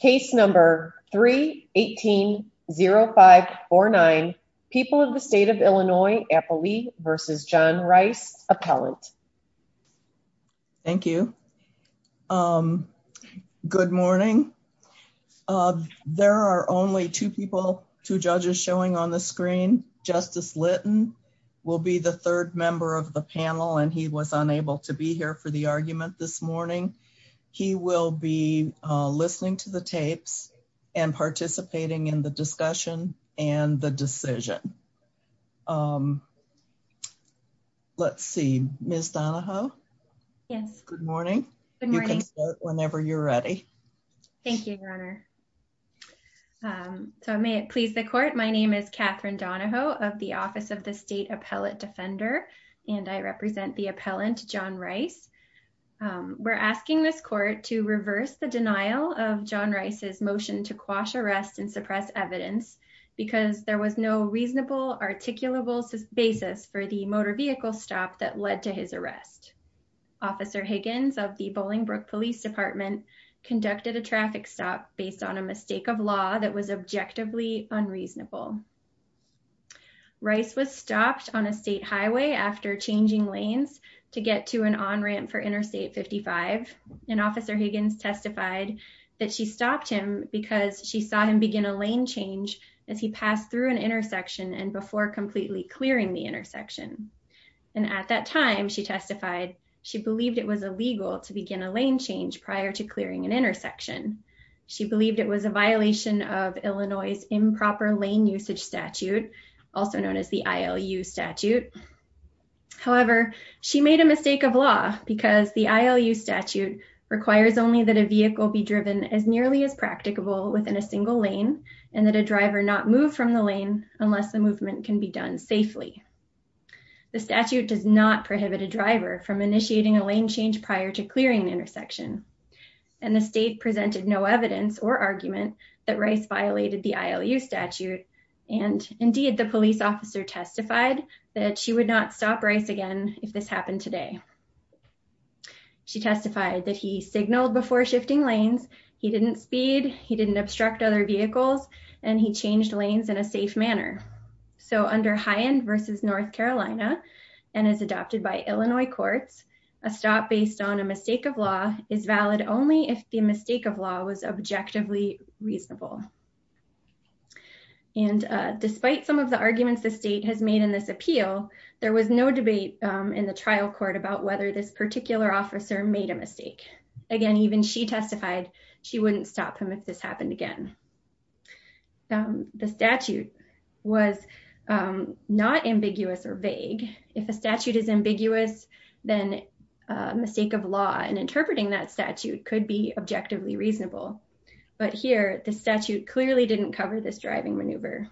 Case number 3-18-0549, People of the State of Illinois, Applee v. John Rice, Appellant. Thank you. Good morning. There are only two people, two judges showing on the screen. Justice Lytton will be the third member of the panel and he was unable to be here for the argument this to the tapes and participating in the discussion and the decision. Let's see. Ms. Donahoe? Yes. Good morning. You can start whenever you're ready. Thank you, Your Honor. So may it please the court. My name is Katherine Donahoe of the Office of the State Appellate Defender and I represent the appellant, John Rice. We're asking this court to reverse the John Rice's motion to quash arrest and suppress evidence because there was no reasonable articulable basis for the motor vehicle stop that led to his arrest. Officer Higgins of the Bolingbrook Police Department conducted a traffic stop based on a mistake of law that was objectively unreasonable. Rice was stopped on a state highway after changing lanes to get to an on-ramp for because she saw him begin a lane change as he passed through an intersection and before completely clearing the intersection. At that time, she testified she believed it was illegal to begin a lane change prior to clearing an intersection. She believed it was a violation of Illinois' improper lane usage statute, also known as the ILU statute. However, she made a statute requires only that a vehicle be driven as nearly as practicable within a single lane and that a driver not move from the lane unless the movement can be done safely. The statute does not prohibit a driver from initiating a lane change prior to clearing an intersection and the state presented no evidence or argument that Rice violated the ILU statute and indeed the police officer testified that she would not stop Rice again if this happened today. She testified that he signaled before shifting lanes, he didn't speed, he didn't obstruct other vehicles, and he changed lanes in a safe manner. So under High End v. North Carolina and is adopted by Illinois courts, a stop based on a mistake of law is valid only if the mistake of law was objectively reasonable. And despite some of the arguments the state has made in this trial court about whether this particular officer made a mistake. Again, even she testified she wouldn't stop him if this happened again. The statute was not ambiguous or vague. If a statute is ambiguous, then a mistake of law and interpreting that statute could be objectively reasonable. But here, the statute clearly didn't cover this driving maneuver.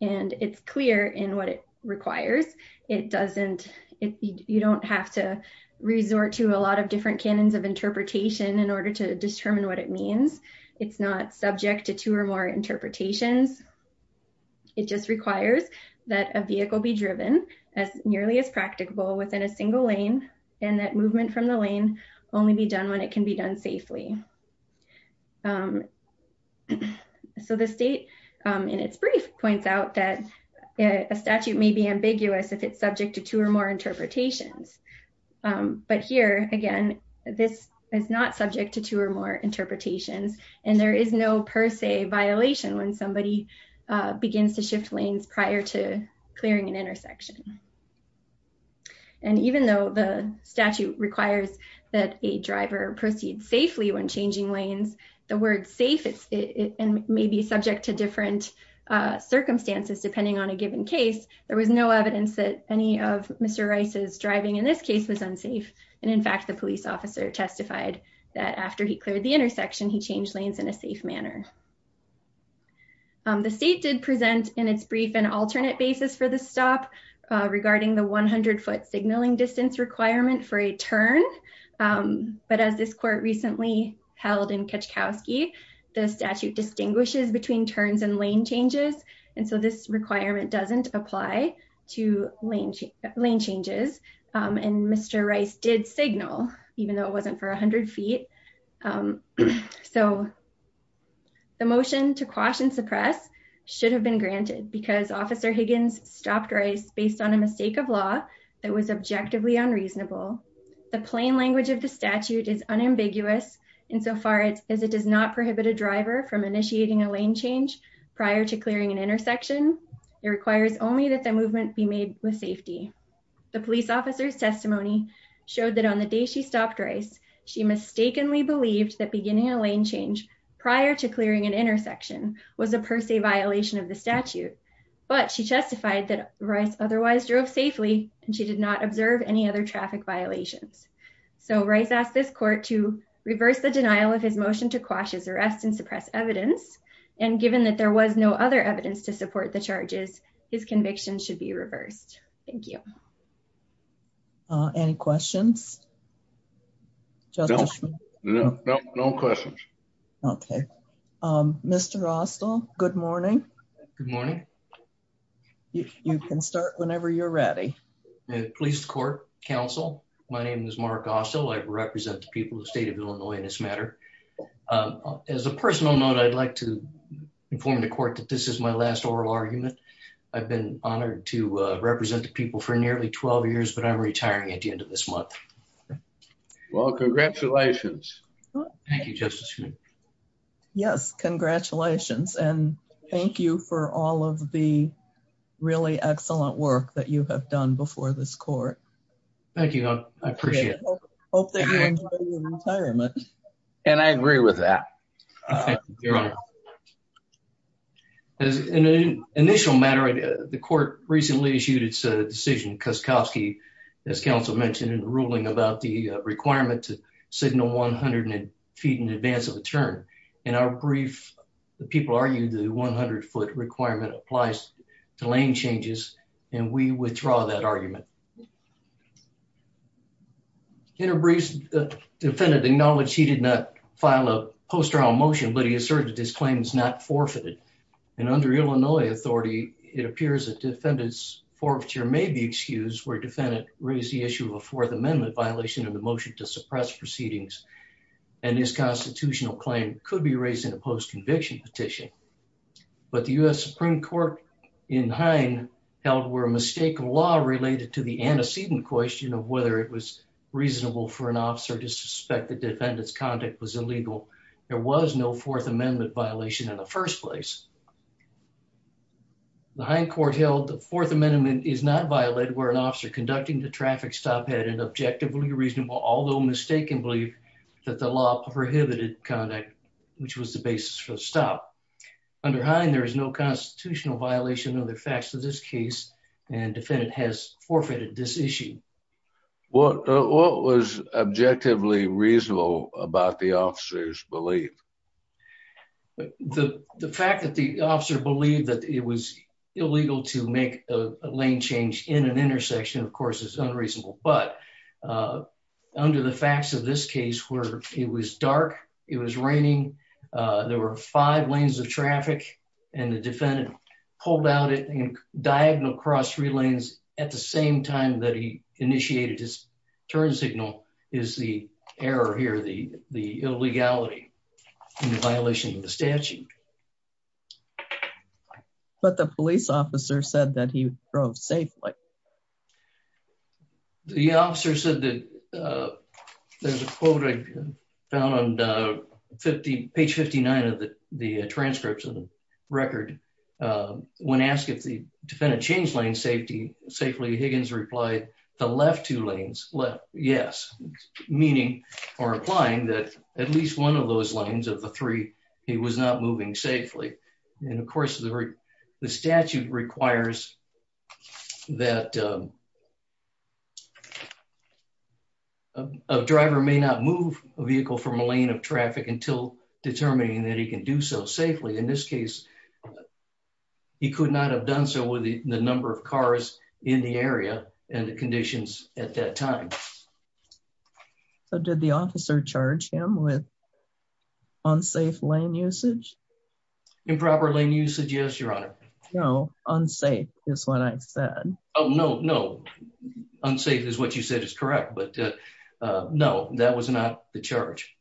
And it's clear in what it requires. It doesn't, you don't have to resort to a lot of different canons of interpretation in order to determine what it means. It's not subject to two or more interpretations. It just requires that a vehicle be driven as nearly as practicable within a single lane and that movement from the lane only be done when it can be done safely. So the state, in its brief points out that a statute may be ambiguous if it's subject to two or more interpretations. But here, again, this is not subject to two or more interpretations. And there is no per se violation when somebody begins to shift lanes prior to clearing an intersection. And even though the statute requires that a driver proceed safely when changing lanes, the word safe may be subject to different circumstances depending on a given case. There was no evidence that any of Mr. Rice's driving in this case was unsafe. And in fact, the police officer testified that after he cleared the intersection, he changed lanes in a safe manner. The state did present in its brief an alternate basis for the stop regarding the 100 foot signaling distance requirement for a turn. But as this court recently held in Kachkowski, the statute distinguishes between turns and lane changes. And so this requirement doesn't apply to lane changes. And Mr. Rice did signal even though it wasn't for 100 feet. So the motion to quash and suppress should have been granted because officer Higgins stopped Rice based on a mistake of law that was objectively unreasonable. The plain language of the statute is unambiguous insofar as it does not prohibit a driver from initiating a lane change prior to clearing an intersection. It requires only that the movement be made with safety. The police officer's testimony showed that on the day she stopped Rice, she mistakenly believed that beginning a lane change prior to clearing an intersection was a per se violation of the statute. But she testified that Rice otherwise drove safely and she did not observe any other traffic violations. So Rice asked this court to reverse the denial of his motion to quash his arrest and suppress evidence. And given that there was no other evidence to support the charges, his conviction should be reversed. Thank you. Any questions? No questions. Okay. Mr. Austell, good morning. Good morning. You can start whenever you're ready. Police court, counsel, my name is Mark Austell. I represent the people of the state of Illinois in this matter. As a personal note, I'd like to inform the court that this is my last oral argument. I've been honored to represent the people for nearly 12 years, but I'm retiring at the end of this month. Well, congratulations. Thank you, Justice. Yes, congratulations. And thank you for all of the really excellent work that you have done before this court. Thank you. I appreciate it. And I agree with that. Your Honor, as an initial matter, the court recently issued its decision, Kuskowski, as counsel mentioned in the ruling about the requirement to signal 100 feet in advance of a turn. In our brief, the people argued the 100 foot requirement applies to lane changes, and we withdraw that argument. In our briefs, the defendant acknowledged he did not file a post-trial motion, but he asserted his claim is not forfeited. And under Illinois authority, it appears that defendant's forfeiture may be excused where defendant raised the issue of a Fourth Amendment violation of the motion to suppress proceedings. And his constitutional claim could be raised in a post-conviction petition. But the U.S. Supreme Court in Hine held we're a mistake of law related to the antecedent question of whether it was reasonable for an officer to suspect the defendant's conduct was illegal. There was no Fourth Amendment violation in the first place. The Hine court held the Fourth Amendment is not violated where an officer conducting the traffic stop had an objectively reasonable, although mistakenly, that the law prohibited conduct, which was the basis for the stop. Under Hine, there is no constitutional violation of the facts of this case, and defendant has forfeited this issue. What was objectively reasonable about the officer's belief? The fact that the officer believed that it was illegal to make a lane change in an intersection, of course, is unreasonable. But under the facts of this case where it was dark, it was raining, there were five lanes of traffic, and the defendant pulled out in diagonal cross relays at the same time that he initiated his turn signal is the error here, the illegality in violation of the statute. But the police officer said that he drove safely. And the officer said that there's a quote I found on page 59 of the transcripts of the record. When asked if the defendant changed lane safety safely, Higgins replied, the left two lanes left, yes, meaning or implying that at least one of those lanes of the three, he was not moving safely. And of course, the statute requires that a driver may not move a vehicle from a lane of traffic until determining that he can do so safely. In this case, he could not have done so with the number of cars in the area and the conditions at that time. Did the officer charge him with unsafe lane usage? Improper lane usage, yes, Your Honor. No, unsafe is what I said. Oh, no, no. Unsafe is what you said is correct. But no, that was not the charge.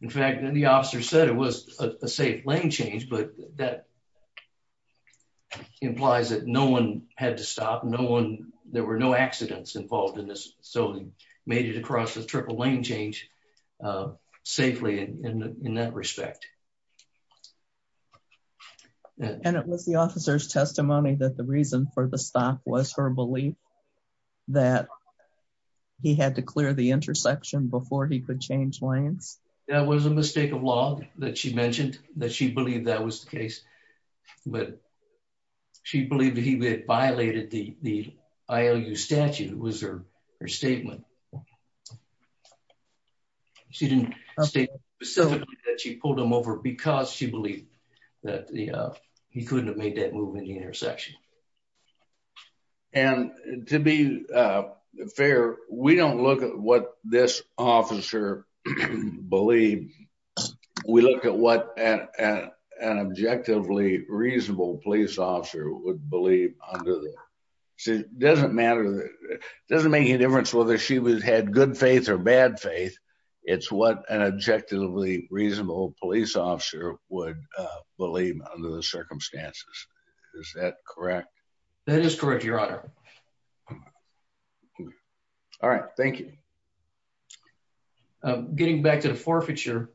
In fact, the officer said it was a safe lane change, but that implies that no one had to stop, no one, there were no accidents involved in this. So he made it across the triple lane change safely in that respect. And it was the officer's testimony that the reason for the stop was her belief that he had to clear the intersection before he could change lanes? That was a mistake of law that she mentioned, that she believed that was the case. But she believed that he had violated the IOU statute was her statement. She didn't state specifically that she pulled him over because she believed that he couldn't have made that move in the intersection. And to be fair, we don't look at what this officer believed. We look at what an objectively reasonable police officer would believe under there. It doesn't matter, it doesn't make any difference whether she was had good faith or bad faith. It's what an objectively reasonable police officer would believe under the circumstances. Is that correct? That is correct, Your Honor. All right. Thank you. Getting back to the forfeiture,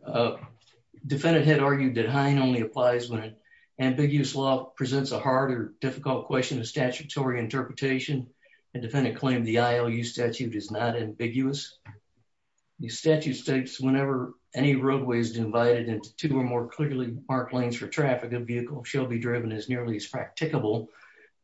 defendant had argued that Hine only applies when ambiguous law presents a harder, difficult question of statutory interpretation. The defendant claimed the IOU statute is not ambiguous. The statute states whenever any roadway is divided into two or more clearly marked lanes for traffic, a vehicle shall be driven as nearly as practicable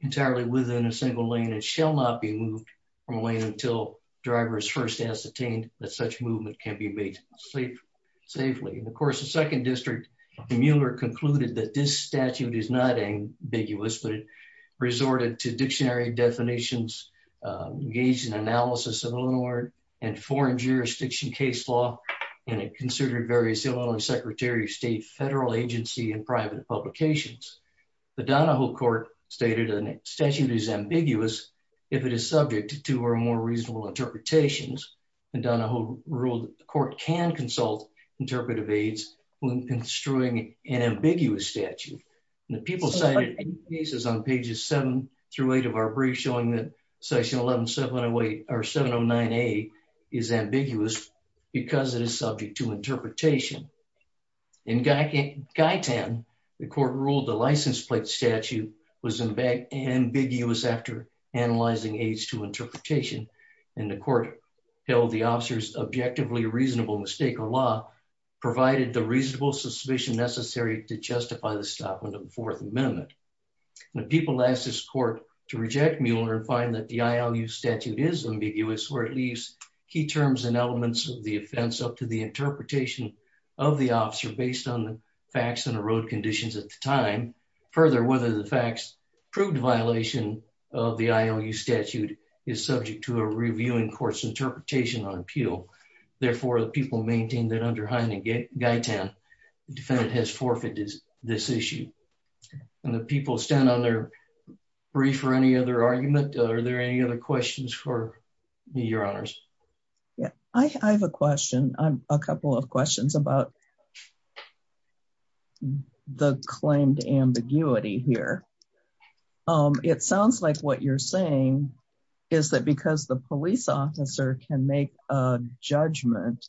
entirely within a single lane and shall not be moved from a lane until driver is first ascertained that such movement can be made safely. And of course, the second district, Mueller concluded that this statute is not ambiguous, but it resorted to dictionary definitions, engaged in analysis of Illinois and foreign jurisdiction case law, and it considered various Illinois Secretary of State, federal agency, and private publications. The Donahoe court stated a statute is ambiguous if it is subject to two or more reasonable interpretations. And Donahoe ruled the court can consult interpretive aides when construing an ambiguous statute. And the people cited cases on pages seven through eight of our brief showing that section 11708 or 709A is ambiguous because it is subject to interpretation. In Guyton, the court ruled the license plate statute was ambiguous after analyzing aids to interpretation. And the court held the officer's objectively reasonable mistake or law provided the reasonable suspicion necessary to justify the stop on the Fourth Amendment. The people asked this court to reject Mueller and find that the IOU statute is ambiguous or at least key terms and elements of the offense up to the interpretation of the officer based on the facts and the road conditions at the time. Further, whether the facts proved violation of the IOU statute is subject to a reviewing court's interpretation on appeal. Therefore, the people maintained that under Hyndman and Guyton, the defendant has forfeited this issue. And the people stand on their brief or any other argument. Are there any other questions for me, your honors? Yeah, I have a question, a couple of questions about the claimed ambiguity here. Um, it sounds like what you're saying is that because the police officer can make a judgment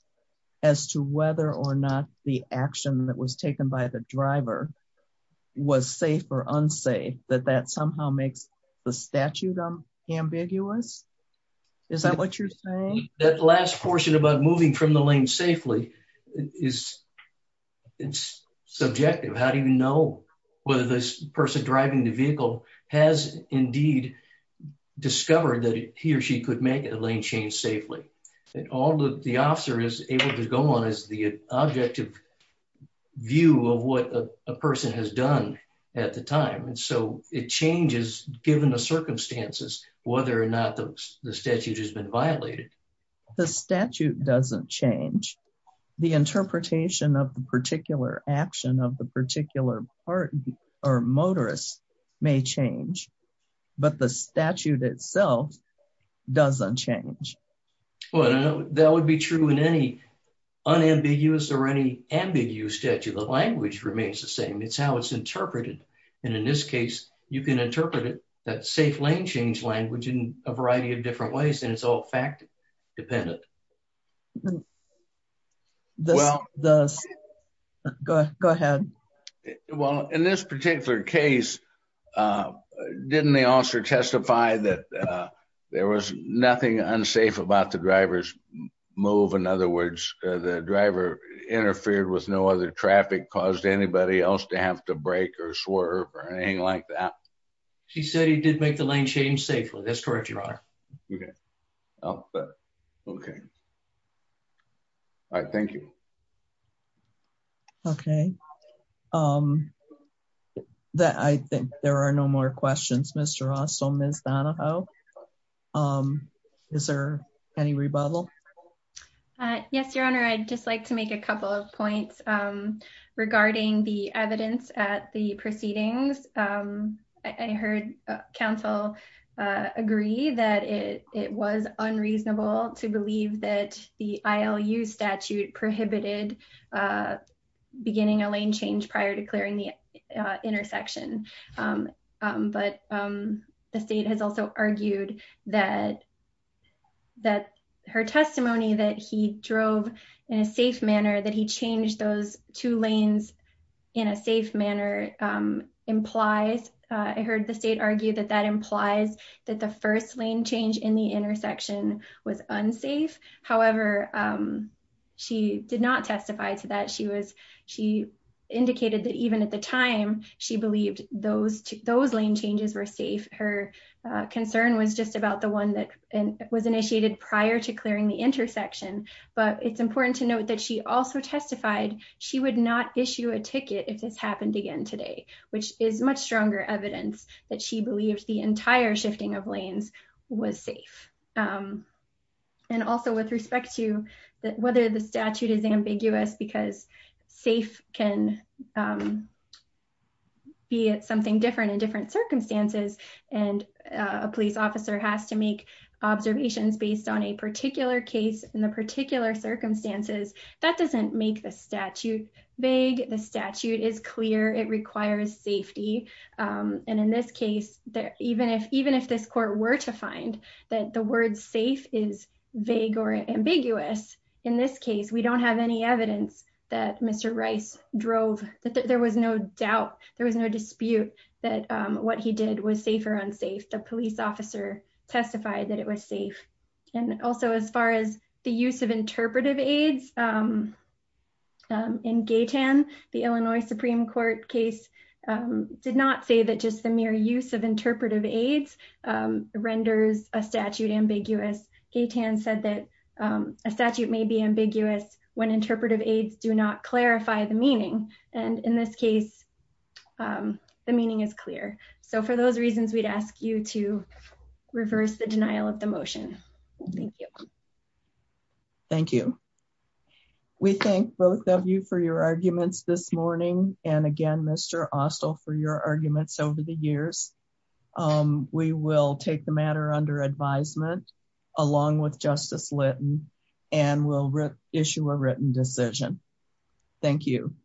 as to whether or not the action that was taken by the driver was safe or unsafe, that that somehow makes the statute ambiguous. Is that what you're saying? That last portion about moving from the lane safely is subjective. How do you know whether this person driving the vehicle has indeed discovered that he or she could make a lane change safely? And all the officer is able to go on is the objective view of what a person has done at the time. And so it changes given the circumstances, whether or not the statute has been violated. The statute doesn't change. The interpretation of the particular action of the particular part or motorist may change, but the statute itself doesn't change. Well, that would be true in any unambiguous or any ambiguous statute. The language remains the same. It's how it's interpreted. And in this case, you can interpret it, that safe lane change language in a variety of different ways. And it's all fact dependent. Well, go ahead. Well, in this particular case, didn't the officer testify that there was nothing unsafe about the driver's move? In other words, the driver interfered with no other traffic, caused anybody else to have to break or swerve or anything like that? She said he did make the lane change safely. That's correct, your honor. Okay. Okay. All right. Thank you. Okay. I think there are no more questions, Mr. Ross or Ms. Donahoe. Is there any rebuttal? Yes, your honor. I'd just like to make a couple of points regarding the evidence at the proceedings. I heard counsel agree that it was unreasonable to believe that the ILU statute prohibited beginning a lane change prior to clearing the intersection. But the state has also argued that her testimony that he drove in a safe manner, that he changed those two lanes in a safe manner implies, I heard the state argue that that implies that the first lane change in the intersection was unsafe. However, she did not testify to that. She indicated that even at the time, she believed those lane changes were safe. Her concern was just about the one that was initiated prior to clearing the intersection. But it's important to note that she also testified. She would not issue a ticket if this happened again today, which is much stronger evidence that she believes the entire shifting of lanes was safe. And also with respect to whether the statute is ambiguous because safe can be something different in different circumstances. And a police officer has to make observations based on a particular case in the particular circumstances that doesn't make the statute vague. The statute is clear. It requires safety. And in this case, even if this court were to find that the word safe is vague or ambiguous, in this case, we don't have any evidence that Mr. Rice drove, that there was no doubt. There was no dispute that what he did was safe or unsafe. The police officer testified that it was safe. And also as far as the use of interpretive aids in Gaytan, the Illinois Supreme Court case did not say that just the mere use of interpretive aids renders a statute ambiguous. Gaytan said that a statute may be ambiguous when interpretive aids do not clarify the the meaning is clear. So for those reasons, we'd ask you to reverse the denial of the motion. Thank you. Thank you. We thank both of you for your arguments this morning. And again, Mr. Austell for your arguments over the years. We will take the matter under advisement along with Justice Litton and will issue a written decision. Thank you.